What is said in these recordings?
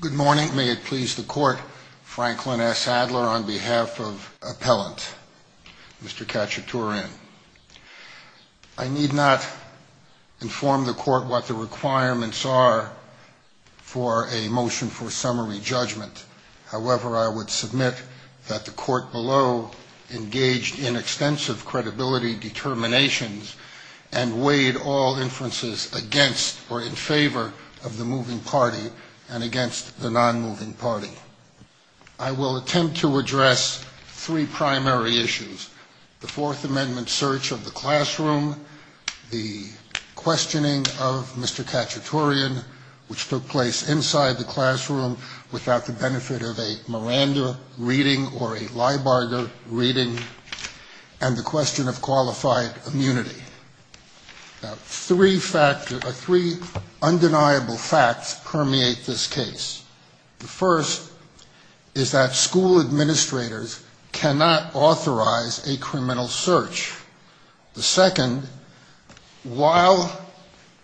Good morning. May it please the Court, Franklin S. Adler on behalf of Appellant Mr. Khachatourian. I need not inform the Court what the requirements are for a motion for summary judgment. However, I would submit that the Court below engaged in extensive credibility determinations and weighed all inferences against or in favor of the moving party and against the non-moving party. I will attempt to address three primary issues. The Fourth Amendment search of the classroom, the questioning of Mr. Khachatourian, which took place inside the classroom without the benefit of a Miranda reading or a Leibarger reading, and the question of qualified immunity. Now, three undeniable facts permeate this case. The first is that school administrators cannot authorize a criminal search. The second, while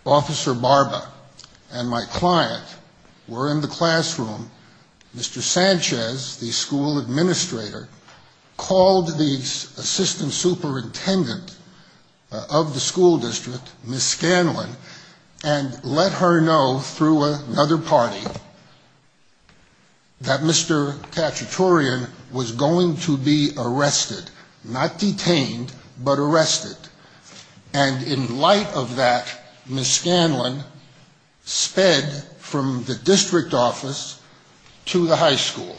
Officer Barba and my client were in the classroom, Mr. Sanchez, the school administrator, called the assistant superintendent of the school district, Ms. Scanlon, and let her know through another party that Mr. Khachatourian was going to be arrested, not detained, but arrested. And in light of that, Ms. Scanlon sped from the district office to the high school.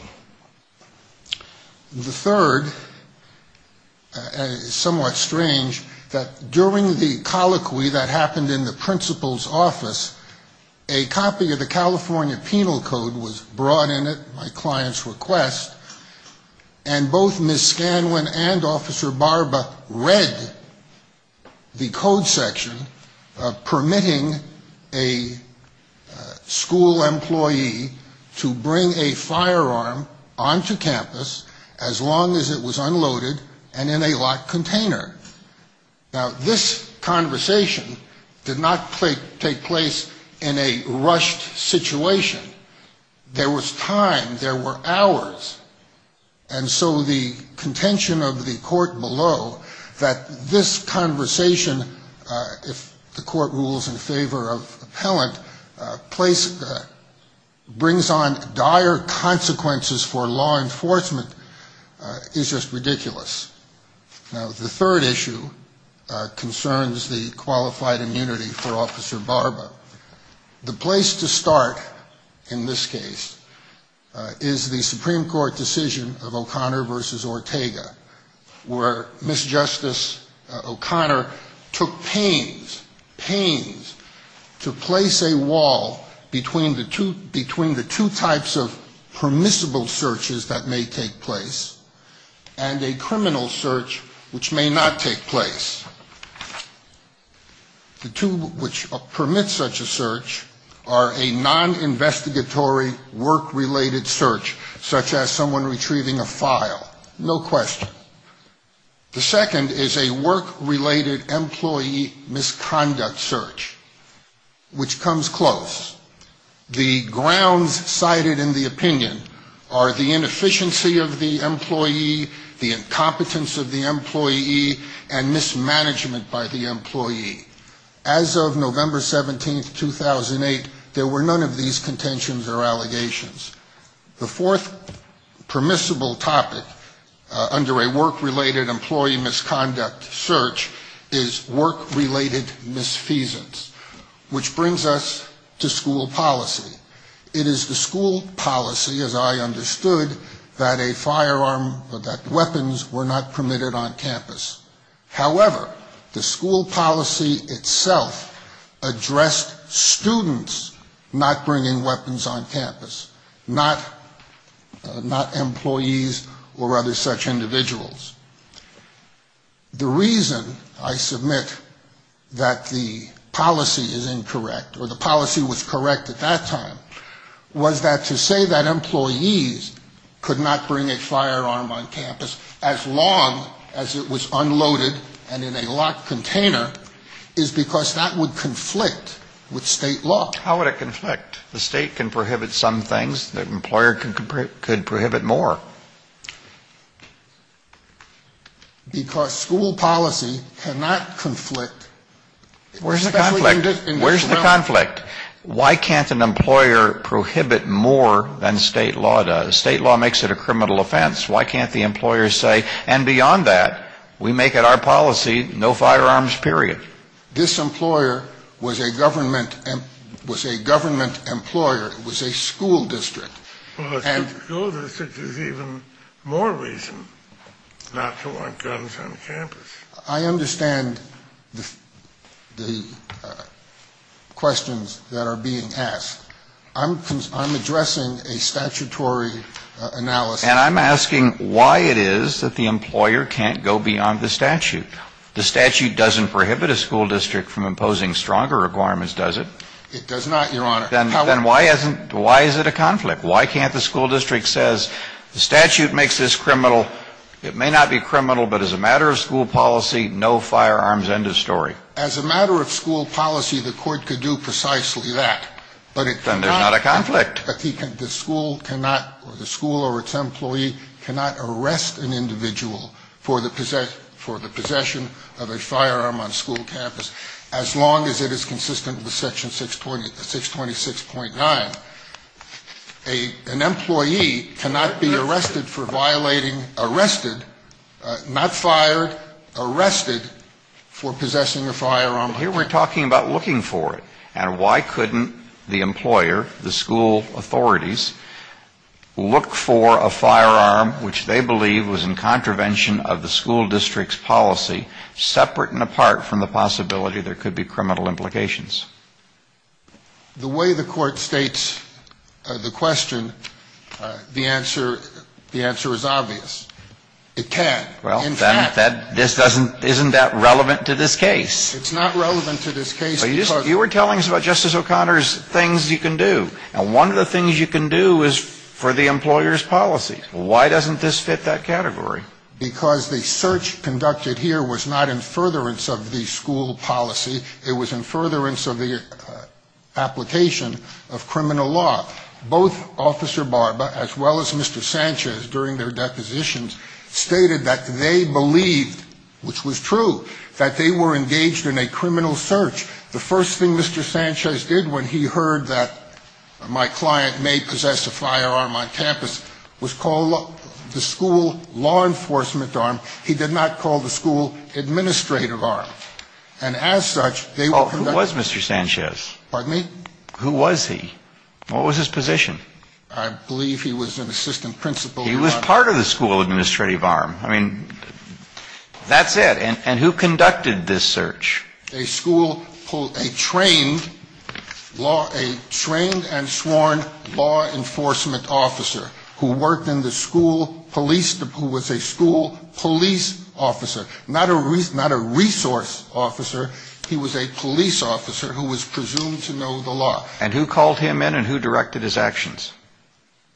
The third, somewhat strange, that during the colloquy that happened in the principal's office, a copy of the California Penal Code was brought in at my client's request, and both Ms. Scanlon and Officer Barba read the code section permitting a school employee to bring a firearm onto campus, as long as it was unloaded and in a locked container. Now, this conversation did not take place in a rushed situation. There was time, there were hours, and so the contention of the court below that this conversation, if the court rules in favor of appellant, brings on dire consequences for law enforcement is just ridiculous. Now, the third issue concerns the qualified immunity for Officer Barba. The place to start in this case is the Supreme Court decision of O'Connor v. Ortega, where Ms. Justice O'Connor took pains, pains to place a wall between the two types of permissible searches that may take place, and a criminal search which may not take place. The two which permit such a search are a non-investigatory work-related search, such as someone retrieving a file, no question. The second is a work-related employee misconduct search, which comes close. The grounds cited in the opinion are the inefficiency of the employee, the incompetence of the employee, and mismanagement by the employee. As of November 17, 2008, there were none of these contentions or allegations. The fourth permissible topic under a work-related employee misconduct search is work-related misfeasance, which brings us to school policy. It is the school policy, as I understood, that a firearm or that weapons were not permitted on campus. However, the school policy itself addressed students not bringing weapons on campus, not employees or other such individuals. The reason, I submit, that the policy is incorrect, or the policy was correct at that time, is that the school policy was not correct at that time, was that to say that employees could not bring a firearm on campus as long as it was unloaded and in a locked container is because that would conflict with state law. How would it conflict? The state can prohibit some things. The employer could prohibit more. Because school policy cannot conflict. Where's the conflict? Where's the conflict? Why can't an employer prohibit more than state law does? State law makes it a criminal offense. Why can't the employer say, and beyond that, we make it our policy, no firearms, period? This employer was a government employer. It was a school district. Well, if you go there, there's even more reason not to want guns on campus. I understand the questions that are being asked. I'm addressing a statutory analysis. And I'm asking why it is that the employer can't go beyond the statute. The statute doesn't prohibit a school district from imposing stronger requirements, does it? It does not, Your Honor. Then why is it a conflict? Why can't the school district say the statute makes this criminal? It may not be criminal, but as a matter of school policy, no firearms, end of story. As a matter of school policy, the court could do precisely that. Then there's not a conflict. But the school cannot, or the school or its employee cannot arrest an individual for the possession of a firearm on a school campus as long as it is consistent with Section 626. 6.9. An employee cannot be arrested for violating, arrested, not fired, arrested for possessing a firearm. But here we're talking about looking for it. And why couldn't the employer, the school authorities, look for a firearm which they believe was in contravention of the school district's policy, separate and apart from the possibility there could be criminal implications? The way the Court states the question, the answer, the answer is obvious. It can, in fact. Isn't that relevant to this case? It's not relevant to this case. You were telling us about Justice O'Connor's things you can do. And one of the things you can do is for the employer's policy. Why doesn't this fit that category? Because the search conducted here was not in furtherance of the school policy. It was in furtherance of the application of criminal law. Both Officer Barba, as well as Mr. Sanchez, during their depositions, stated that they believed, which was true, that they were engaged in a criminal search. The first thing Mr. Sanchez did when he heard that my client may possess a firearm on campus was call the school law enforcement arm. He did not call the school administrative arm. And as such, they were conducted. Oh, who was Mr. Sanchez? Pardon me? Who was he? What was his position? I believe he was an assistant principal. He was part of the school administrative arm. I mean, that's it. And who conducted this search? A school, a trained law, a trained and sworn law enforcement officer who worked in the school police, who was a school police officer. Not a resource officer. He was a police officer who was presumed to know the law. And who called him in and who directed his actions?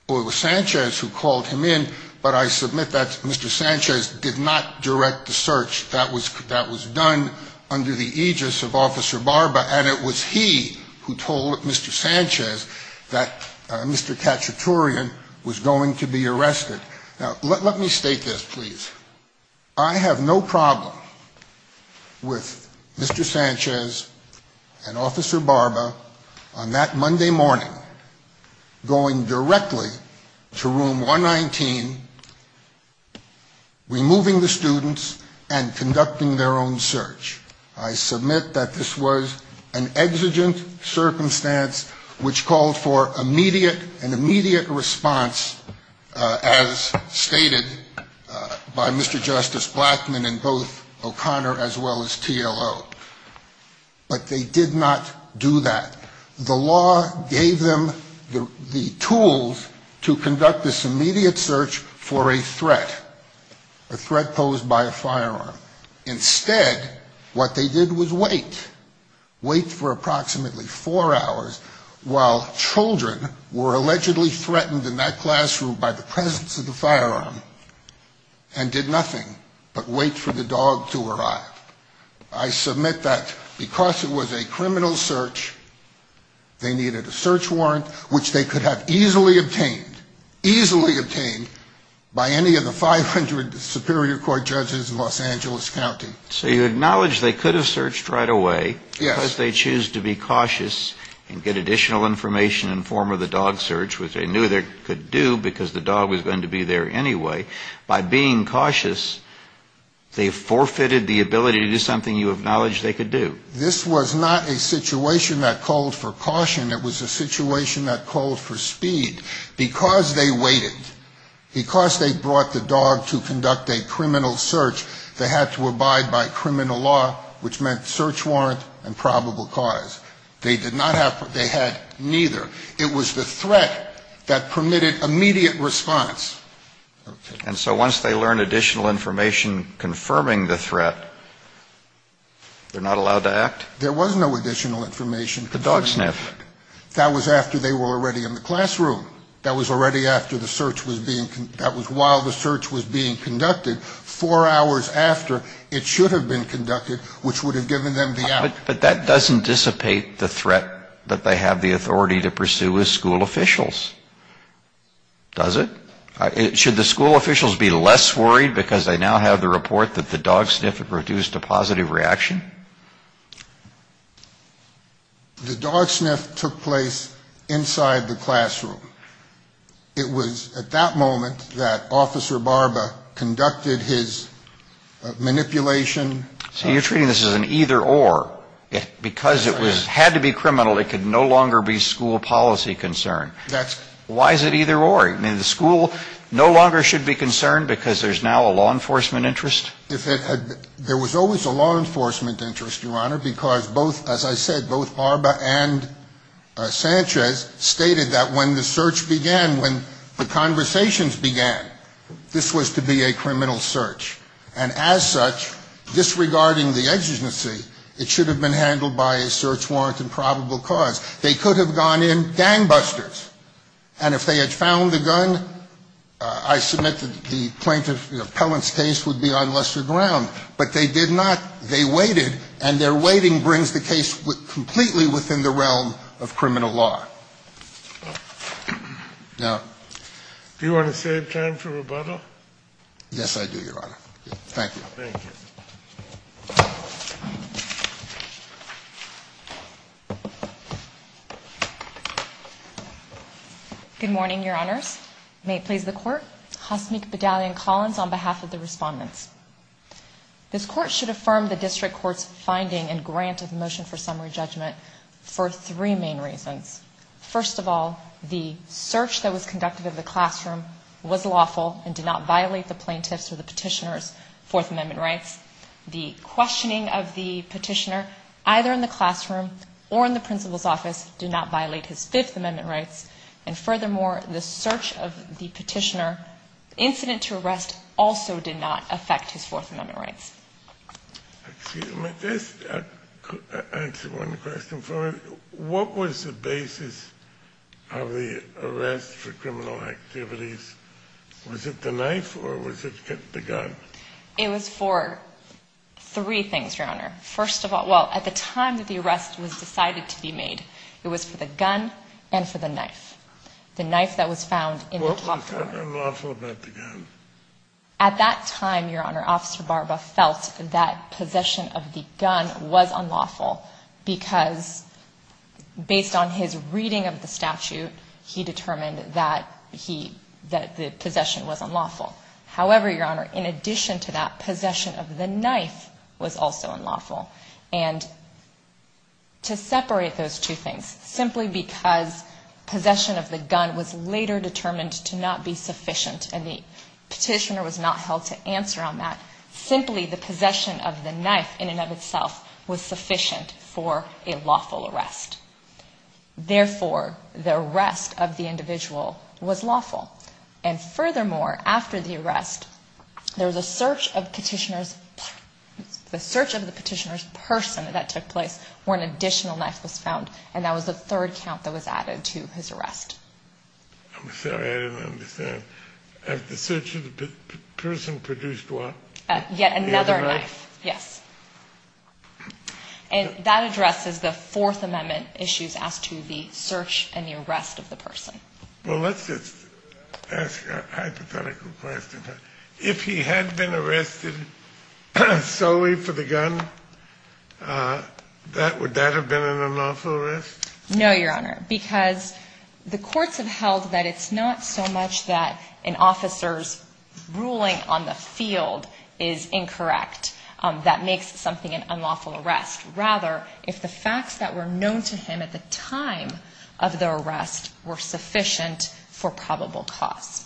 Well, it was Sanchez who called him in. But I submit that Mr. Sanchez did not direct the search. That was done under the aegis of Officer Barba. And it was he who told Mr. Sanchez that Mr. Cacciatorean was going to be arrested. Now, let me state this, please. I have no problem with Mr. Sanchez and Officer Barba on that Monday morning going directly to Room 119, removing the students, and conducting their own search. I submit that this was an exigent circumstance which called for an immediate response, as stated by Mr. Justice Blackmun and both O'Connor as well as TLO. But they did not do that. The law gave them the tools to conduct this immediate search for a threat, a threat posed by a firearm. Instead, what they did was wait. Wait for approximately four hours while children were allegedly threatened in that classroom by the presence of the firearm and did nothing but wait for the dog to arrive. I submit that because it was a criminal search, they needed a search warrant which they could have easily obtained, easily obtained by any of the 500 Superior Court judges in Los Angeles County. So you acknowledge they could have searched right away. Yes. Because they choose to be cautious and get additional information in the form of the dog search, which they knew they could do because the dog was going to be there anyway. By being cautious, they forfeited the ability to do something you acknowledge they could do. This was not a situation that called for caution. It was a situation that called for speed. Because they waited, because they brought the dog to conduct a criminal search, they had to abide by criminal law, which meant search warrant and probable cause. They did not have to. They had neither. It was the threat that permitted immediate response. And so once they learned additional information confirming the threat, they're not allowed to act? There was no additional information confirming the threat. The dog sniff. That was after they were already in the classroom. That was already after the search was being, that was while the search was being conducted. Four hours after, it should have been conducted, which would have given them the opportunity. But that doesn't dissipate the threat that they have the authority to pursue as school officials. Does it? Should the school officials be less worried because they now have the report that the dog sniff had produced a positive reaction? The dog sniff took place inside the classroom. It was at that moment that Officer Barba conducted his manipulation. So you're treating this as an either or. Because it had to be criminal, it could no longer be school policy concern. Why is it either or? I mean, the school no longer should be concerned because there's now a law enforcement interest? There was always a law enforcement interest, Your Honor, because both, as I said, both Barba and Sanchez stated that when the search began, when the conversations began, this was to be a criminal search. And as such, disregarding the exigency, it should have been handled by a search warrant and probable cause. They could have gone in gangbusters. And if they had found the gun, I submit that the plaintiff's case would be on lesser ground. But they did not. They waited. And their waiting brings the case completely within the realm of criminal law. Now do you want to save time for rebuttal? Yes, I do, Your Honor. Thank you. Thank you. Thank you. Good morning, Your Honors. May it please the Court. Hasmik Bedalyan-Collins on behalf of the respondents. This Court should affirm the district court's finding and grant of motion for summary judgment for three main reasons. First of all, the search that was conducted in the classroom was lawful and did not violate the plaintiff's or the petitioner's Fourth Amendment rights. The questioning of the petitioner, either in the classroom or in the principal's office, did not violate his Fifth Amendment rights. And furthermore, the search of the petitioner, incident to arrest, also did not affect his Fourth Amendment rights. Excuse me. Just answer one question for me. What was the basis of the arrest for criminal activities? Was it the knife or was it the gun? It was for three things, Your Honor. First of all, well, at the time that the arrest was decided to be made, it was for the gun and for the knife. The knife that was found in the club room. What was so unlawful about the gun? At that time, Your Honor, Officer Barba felt that possession of the gun was unlawful because, based on his reading of the statute, he determined that the possession was unlawful. However, Your Honor, in addition to that, possession of the knife was also unlawful. And to separate those two things, simply because possession of the gun was later determined to not be sufficient and the petitioner was not held to answer on that, simply the possession of the knife in and of itself was sufficient for a lawful arrest. Therefore, the arrest of the individual was lawful. And furthermore, after the arrest, there was a search of the petitioner's person that took place where an additional knife was found, and that was the third count that was added to his arrest. I'm sorry, I didn't understand. The search of the person produced what? Yet another knife, yes. And that addresses the Fourth Amendment issues as to the search and the arrest of the person. Well, let's just ask a hypothetical question. If he had been arrested solely for the gun, would that have been an unlawful arrest? No, Your Honor, because the courts have held that it's not so much that an officer's ruling on the field is incorrect that makes something an unlawful arrest. Rather, if the facts that were known to him at the time of the arrest were sufficient for probable cause.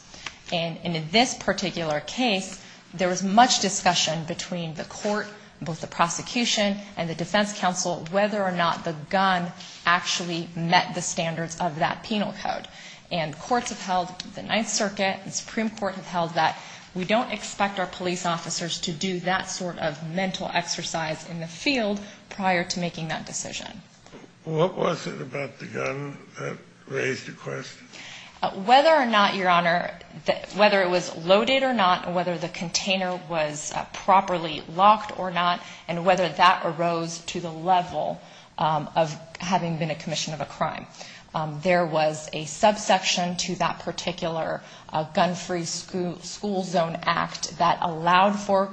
And in this particular case, there was much discussion between the court, both the prosecution and the defense counsel, whether or not the gun actually met the standards of that penal code. And courts have held, the Ninth Circuit, the Supreme Court have held that we don't expect our police officers to do that sort of mental exercise in the field prior to making that decision. What was it about the gun that raised the question? Whether or not, Your Honor, whether it was loaded or not, whether the container was properly locked or not, and whether that arose to the level of having been a commission of a crime. There was a subsection to that particular gun-free school zone act that allowed for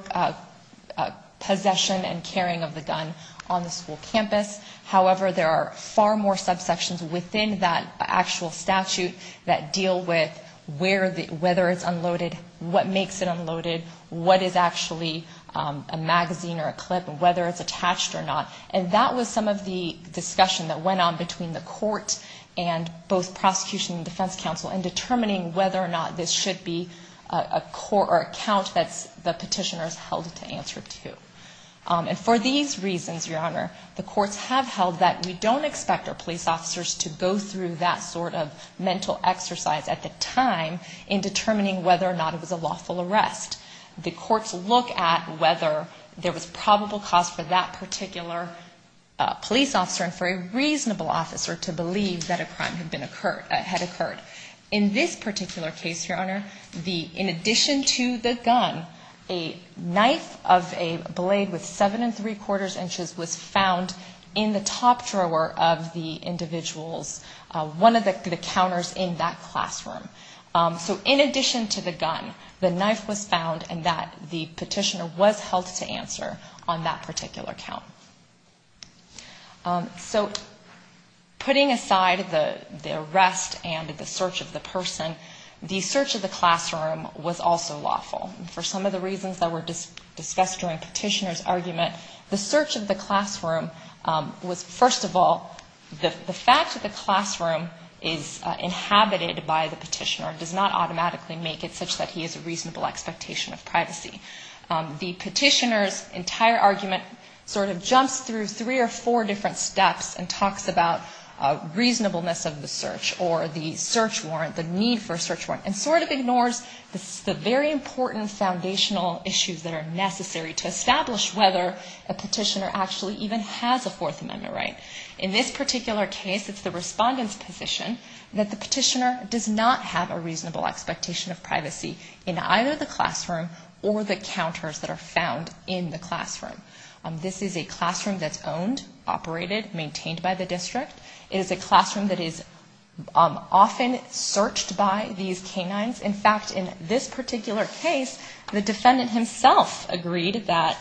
possession and carrying of the gun on the school campus. However, there are far more subsections within that actual statute that deal with whether it's unloaded, what makes it unloaded, what is actually a magazine or a clip, whether it's attached or not. And that was some of the discussion that went on between the court and both prosecution and defense counsel in determining whether or not this should be a court or account that the petitioners held to answer to. And for these reasons, Your Honor, the courts have held that we don't expect our police officers to go through that sort of mental exercise at the time in determining whether or not it was a lawful arrest. The courts look at whether there was probable cause for that particular police officer and for a reasonable officer to believe that a crime had occurred. In this particular case, Your Honor, in addition to the gun, a knife of a blade with seven and three-quarters inches was found in the top drawer of the individual's, one of the counters in that classroom. So in addition to the gun, the knife was found and that the petitioner was held to answer on that particular count. So putting aside the arrest and the search of the person, the search of the classroom was also lawful. For some of the reasons that were discussed during Petitioner's argument, the search of the classroom was, first of all, the fact that the classroom is inhabited by the petitioner does not automatically make it such that he has a reasonable expectation of privacy. The petitioner's entire argument sort of jumps through three or four different steps and talks about reasonableness of the search or the search warrant, the need for a search warrant, and sort of ignores the very important foundational issues that are necessary to establish whether a petitioner actually even has a Fourth Amendment right. In this particular case, it's the respondent's position that the petitioner does not have a reasonable expectation of privacy in either the classroom or the counters that are found in the classroom. This is a classroom that's owned, operated, maintained by the district. It is a classroom that is often searched by these canines. In fact, in this particular case, the defendant himself agreed that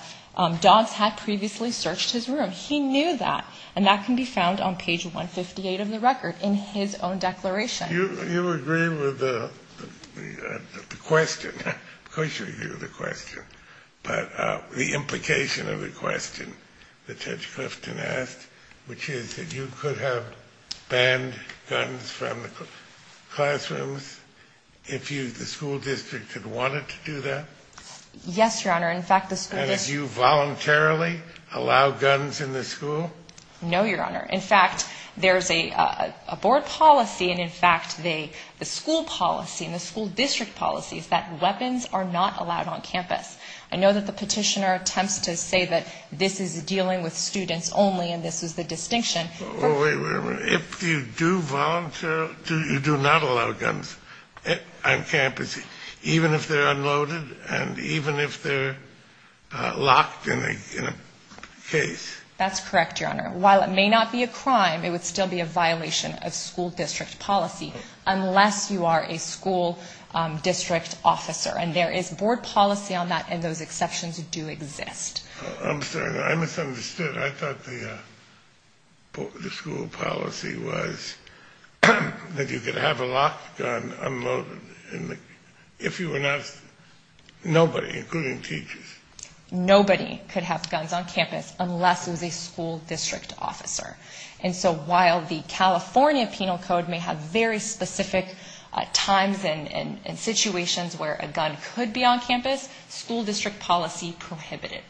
dogs had previously searched his room. He knew that, and that can be found on page 158 of the record in his own declaration. You agree with the question? Of course you agree with the question. But the implication of the question that Judge Clifton asked, which is that you could have banned guns from the classrooms if the school district had wanted to do that? Yes, Your Honor. In fact, the school district... No, Your Honor. In fact, there's a board policy, and in fact, the school policy and the school district policy is that weapons are not allowed on campus. I know that the petitioner attempts to say that this is dealing with students only, and this is the distinction. If you do volunteer, you do not allow guns on campus, even if they're unloaded and even if they're locked in a case. That's correct, Your Honor. While it may not be a crime, it would still be a violation of school district policy unless you are a school district officer. And there is board policy on that, and those exceptions do exist. I'm sorry. I misunderstood. I thought the school policy was that you could have a locked gun unloaded if you were not...nobody, including teachers. Nobody could have guns on campus unless it was a school district officer. And so while the California Penal Code may have very specific times and situations where a gun could be on campus, school district policy prohibited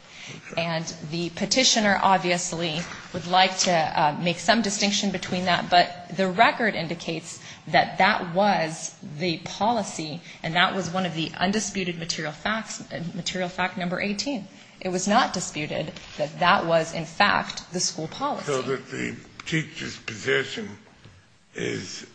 it. I obviously would like to make some distinction between that, but the record indicates that that was the policy, and that was one of the undisputed material facts, material fact number 18. It was not disputed that that was, in fact, the school policy. So that the teacher's position is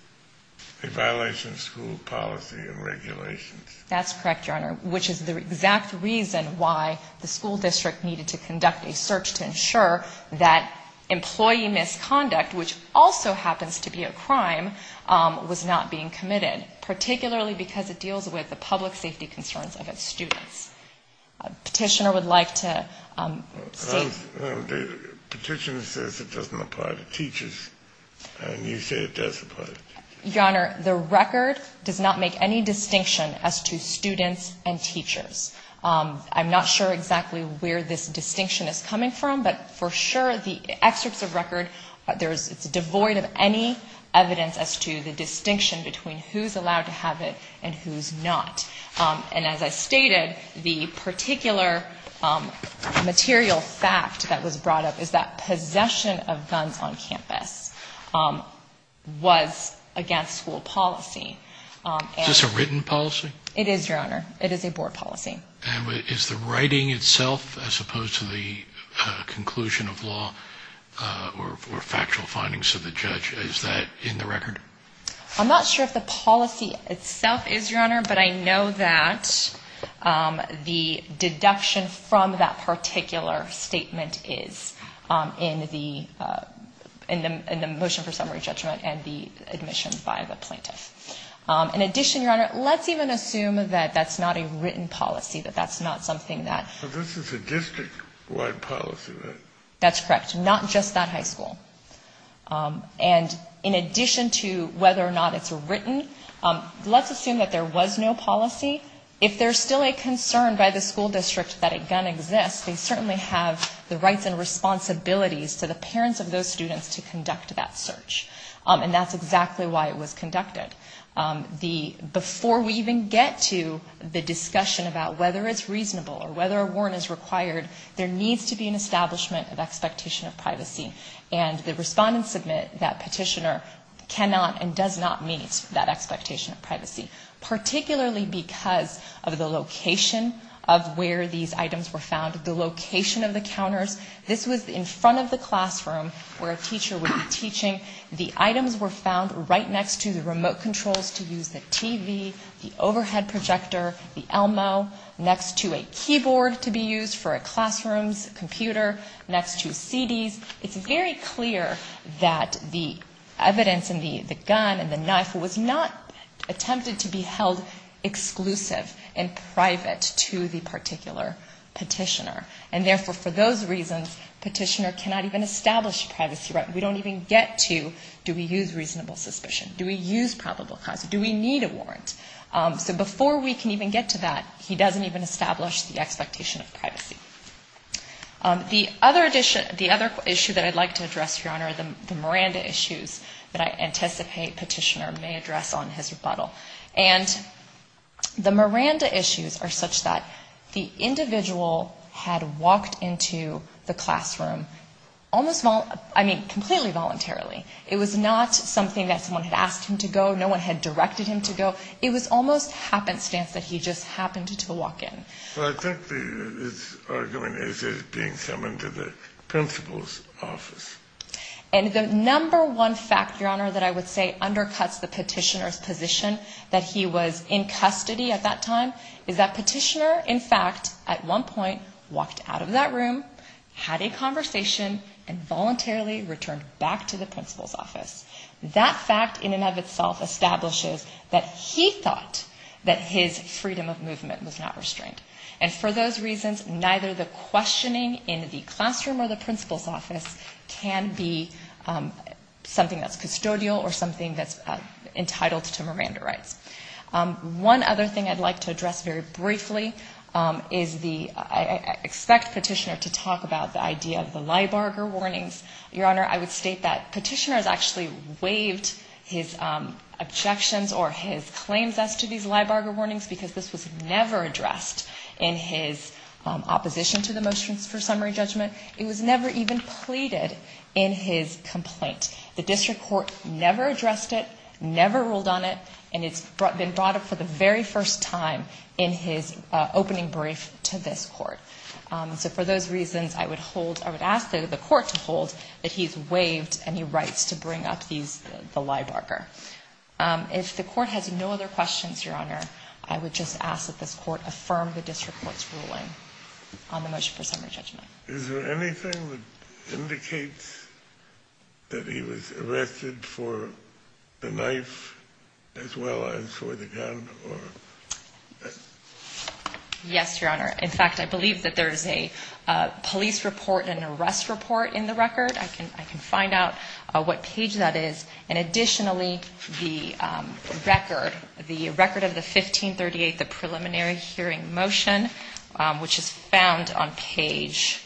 a violation of school policy and regulations. That's correct, Your Honor, which is the exact reason why the school district needed to conduct a search to ensure that employee misconduct, which also happens to be a crime, was not being committed, particularly because it deals with the public safety concerns of its students. Petitioner would like to say... Petitioner says it doesn't apply to teachers, and you say it does apply to teachers. Your Honor, the record does not make any distinction as to students and teachers. I'm not sure exactly where this distinction is coming from, but for sure the excerpts of record, it's devoid of any evidence as to the distinction between who's allowed to have it and who's not. And as I stated, the particular material fact that was brought up is that possession of guns on campus was against school policy. Is this a written policy? It is, Your Honor. It is a board policy. And is the writing itself, as opposed to the conclusion of law or factual findings of the judge, is that in the record? I'm not sure if the policy itself is, Your Honor, but I know that the deduction from that particular statement is in the motion for summary judgment and the admission by the plaintiff. In addition, Your Honor, let's even assume that that's not a written policy, that that's not something that... But this is a district-wide policy, right? That's correct. Not just that high school. And in addition to whether or not it's written, let's assume that there was no policy. If there's still a concern by the school district that a gun exists, they certainly have the rights and responsibilities to the parents of those students to conduct that search. And that's exactly why it was conducted. Before we even get to the discussion about whether it's reasonable or whether a warrant is required, there needs to be an establishment of expectation of privacy. And the respondents submit that Petitioner cannot and does not meet that expectation of privacy, particularly because of the location of where these items were found, the location of the counters. This was in front of the classroom where a teacher would be teaching. The items were found right next to the remote controls to use the TV, the overhead projector, the Elmo, next to a keyboard to be used for a classroom's computer, next to CDs. It's very clear that the evidence in the gun and the knife was not attempted to be held exclusive and private to the particular petitioner. And therefore, for those reasons, Petitioner cannot even establish a privacy right. We don't even get to do we use reasonable suspicion, do we use probable cause, do we need a warrant. So before we can even get to that, he doesn't even establish the expectation of privacy. The other issue that I'd like to address, Your Honor, are the Miranda issues that I anticipate Petitioner may address on his rebuttal. And the Miranda issues are such that the individual had walked into the classroom almost, I mean, completely voluntarily. It was not something that someone had asked him to go. No one had directed him to go. It was almost happenstance that he just happened to walk in. Well, I think the argument is it being summoned to the principal's office. And the number one fact, Your Honor, that I would say undercuts the Petitioner's position that he was in custody at that time is that Petitioner, in fact, at one point walked out of that room, had a conversation, and voluntarily returned back to the principal's office. That fact in and of itself establishes that he thought that his freedom of movement was not restrained. And for those reasons, neither the questioning in the classroom or the principal's office can be something that's custodial or something that's entitled to Miranda rights. One other thing I'd like to address very briefly is the, I expect Petitioner to talk about the idea of the Leiburger warnings. Your Honor, I would state that Petitioner has actually waived his objections or his claims as to these Leiburger warnings because this was never addressed in his opposition to the motions for summary judgment. It was never even pleaded in his complaint. The district court never addressed it, never ruled on it, and it's been brought up for the very first time in his opening brief to this court. So for those reasons, I would hold, I would ask the court to hold that he's waived any rights to bring up these, the Leiburger. If the court has no other questions, Your Honor, I would just ask that this court affirm the district court's ruling on the motion for summary judgment. Is there anything that indicates that he was arrested for the knife as well as for the gun? Yes, Your Honor. In fact, I believe that there is a police report and an arrest report in the record. I can find out what page that is. And additionally, the record, the record of the 1538, the preliminary hearing motion, which is found on page,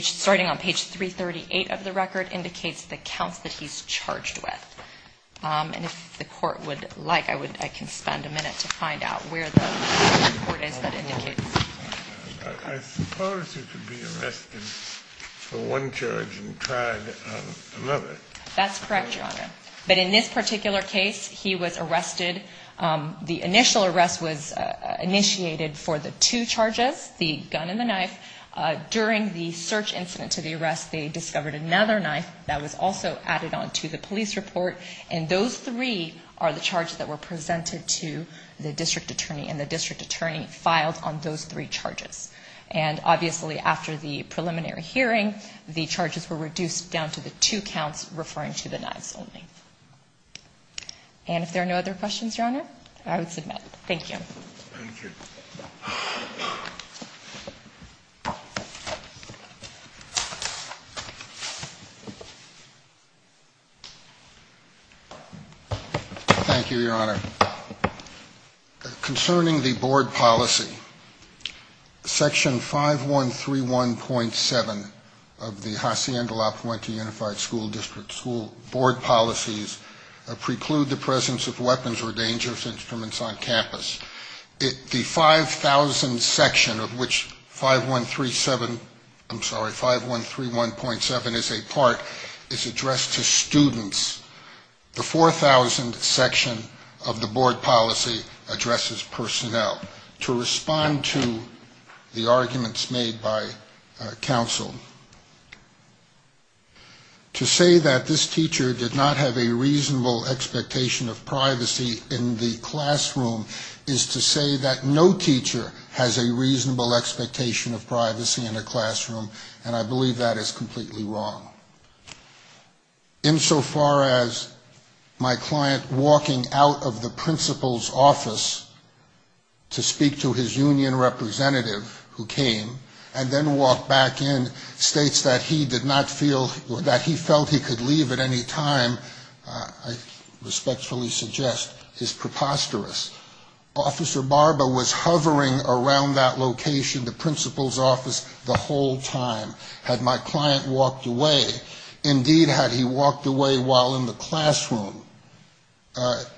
starting on page 338 of the record, indicates the counts that he's charged with. And if the court would like, I would, I can spend a minute to find out where the report is that indicates. I suppose he could be arrested for one charge and tried another. That's correct, Your Honor. But in this particular case, he was arrested. The initial arrest was initiated for the two charges, the gun and the knife. During the search incident to the arrest, they discovered another knife that was also added on to the police report. And those three are the charges that were presented to the district attorney. And the district attorney filed on those three charges. And obviously, after the preliminary hearing, the charges were reduced down to the two counts referring to the knives only. And if there are no other questions, Your Honor, I would submit. Thank you. Thank you. Thank you, Your Honor. The 5,000 section of which 5137, I'm sorry, 5131.7 is a part is addressed to students. The 4,000 section of the board policy addresses personnel. To respond to the arguments made by counsel, to say that this teacher did not have a reasonable expectation of privacy in the classroom is to say that no teacher has a reasonable expectation of privacy in a classroom. And I believe that is completely wrong. Insofar as my client walking out of the principal's office to speak to his union representative who came and then walked back in states that he did not feel or that he felt he could leave at any time, I respectfully suggest is preposterous. Officer Barba was hovering around that location, the principal's office, the whole time. Had my client walked away, indeed had he walked away while in the classroom,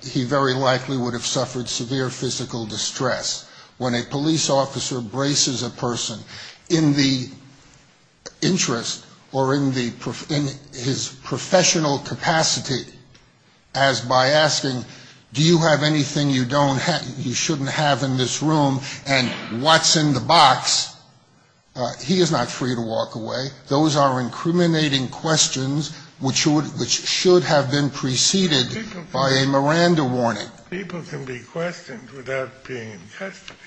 he very likely would have suffered severe physical distress. When a police officer braces a person in the interest or in his professional capacity as by asking, do you have anything you shouldn't have in this room, and what's in the box, he is not free to walk away. Those are incriminating questions which should have been preceded by a Miranda warning. People can be questioned without being in custody.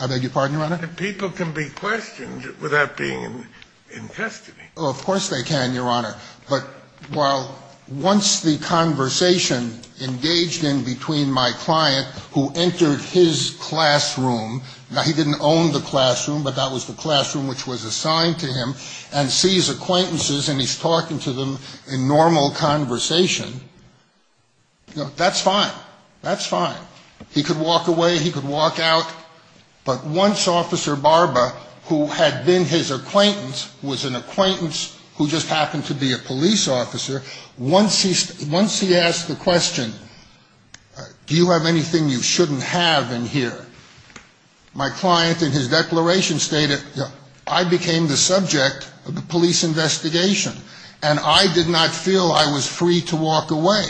I beg your pardon, Your Honor? People can be questioned without being in custody. Oh, of course they can, Your Honor. But while once the conversation engaged in between my client who entered his classroom, now he didn't own the classroom, but that was the classroom which was assigned to him, and sees acquaintances and he's talking to them in normal conversation, that's fine. That's fine. He could walk away, he could walk out. But once Officer Barba, who had been his acquaintance, was an acquaintance who just happened to be a police officer, once he asked the question, do you have anything you shouldn't have in here, my client in his declaration stated, I became the subject of the police investigation, and I did not feel I was free to walk away.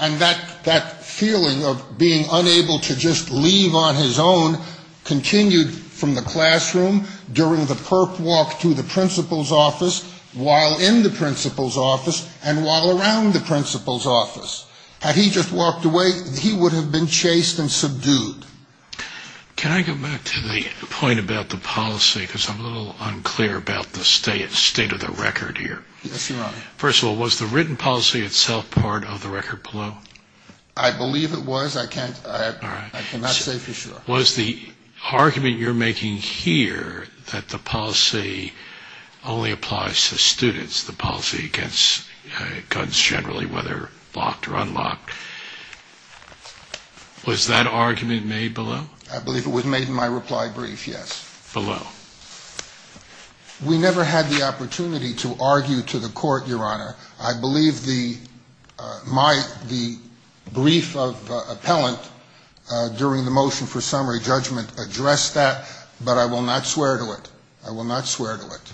And that feeling of being unable to just leave on his own continued from the classroom during the perp walk to the principal's office, while in the principal's office, and while around the principal's office. Had he just walked away, he would have been chased and subdued. Can I go back to the point about the policy, because I'm a little unclear about the state of the record here? Yes, Your Honor. First of all, was the written policy itself part of the record below? I believe it was. I cannot say for sure. Was the argument you're making here that the policy only applies to students, the policy against guns generally, whether locked or unlocked, was that argument made below? I believe it was made in my reply brief, yes. Below. We never had the opportunity to argue to the court, Your Honor. I believe the brief of appellant during the motion for summary judgment addressed that, but I will not swear to it. I will not swear to it.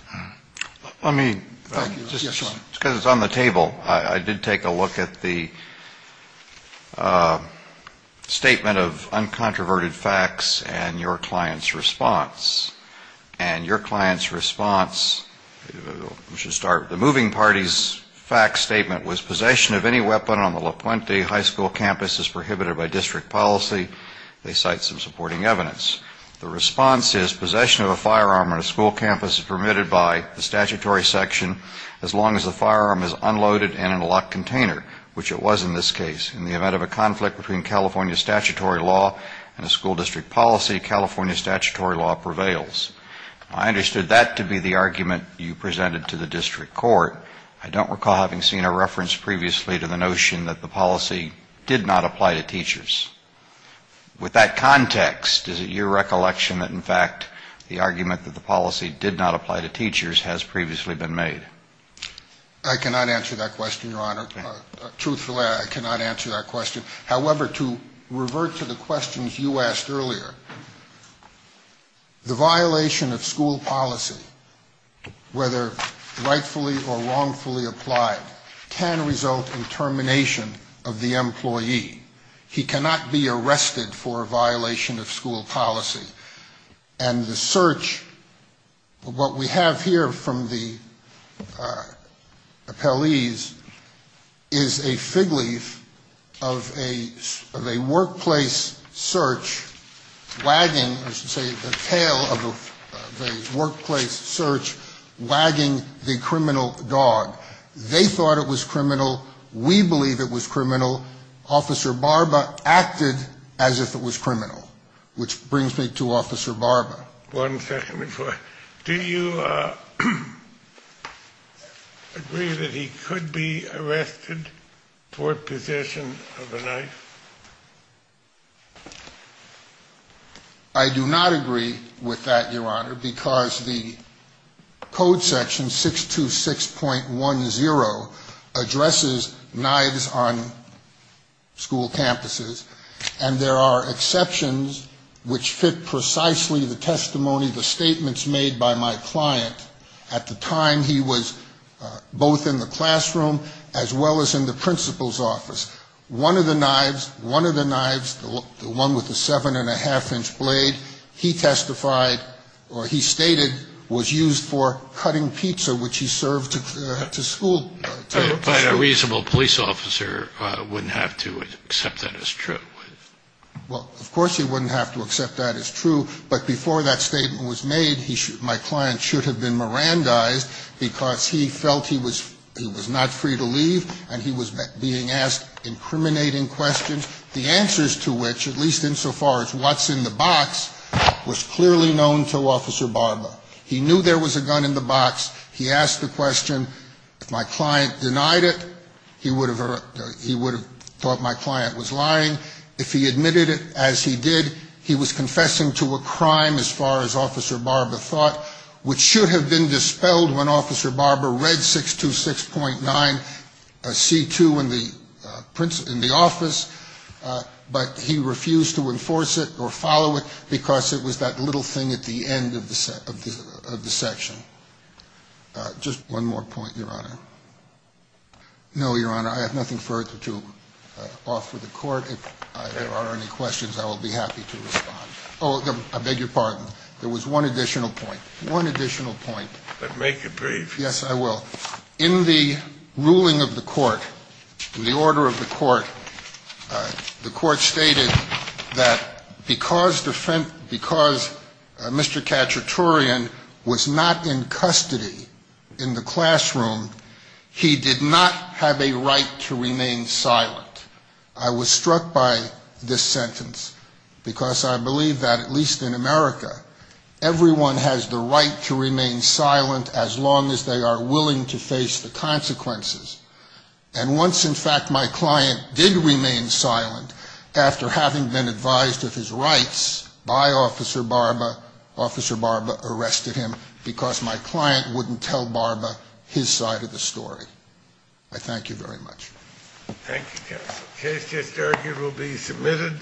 Let me. Thank you. Because it's on the table. I did take a look at the statement of uncontroverted facts and your client's response. And your client's response, we should start with the moving party's fact statement, was possession of any weapon on the La Puente high school campus is prohibited by district policy. They cite some supporting evidence. The response is possession of a firearm on a school campus is permitted by the statutory section as long as the firearm is unloaded and in a locked container, which it was in this case. In the event of a conflict between California statutory law and a school district policy, California statutory law prevails. I understood that to be the argument you presented to the district court. I don't recall having seen a reference previously to the notion that the policy did not apply to teachers. I cannot answer that question, Your Honor. Truthfully, I cannot answer that question. However, to revert to the questions you asked earlier, the violation of school policy, whether rightfully or wrongfully applied, can result in termination of the employee. He cannot be arrested for a violation of school policy. And the search, what we have here from the appellees is a fig leaf of a workplace search wagging, I should say, the tail of a workplace search wagging the criminal dog. They thought it was criminal. We believe it was criminal. Which brings me to Officer Barba. One second before. Do you agree that he could be arrested for possession of a knife? I do not agree with that, Your Honor, because the code section 626.10 addresses knives on school campuses. And there are exceptions which fit precisely the testimony, the statements made by my client. At the time, he was both in the classroom as well as in the principal's office. One of the knives, one of the knives, the one with the 7 1⁄2-inch blade, he testified, or he stated, was used for cutting pizza, which he served to school. But a reasonable police officer wouldn't have to accept that as true. Well, of course he wouldn't have to accept that as true. But before that statement was made, my client should have been Mirandized because he felt he was not free to leave and he was being asked incriminating questions, the answers to which, at least insofar as what's in the box, was clearly known to Officer Barba. He knew there was a gun in the box. He asked the question. If my client denied it, he would have thought my client was lying. If he admitted it, as he did, he was confessing to a crime, as far as Officer Barba thought, which should have been dispelled when Officer Barba read 626.9C2 in the office, but he refused to enforce it or follow it because it was that little thing at the end of the section. Just one more point, Your Honor. No, Your Honor, I have nothing further to offer the Court. If there are any questions, I will be happy to respond. Oh, I beg your pardon. There was one additional point, one additional point. But make it brief. Yes, I will. In the ruling of the Court, in the order of the Court, the Court stated that because Mr. Khachaturian was not in custody in the classroom, he did not have a right to remain silent. I was struck by this sentence because I believe that, at least in America, everyone has the right to remain silent as long as they are willing to face the consequences. And once, in fact, my client did remain silent, after having been advised of his rights by Officer Barba, Officer Barba arrested him because my client wouldn't tell Barba his side of the story. I thank you very much. Thank you, counsel. The case just argued will be submitted.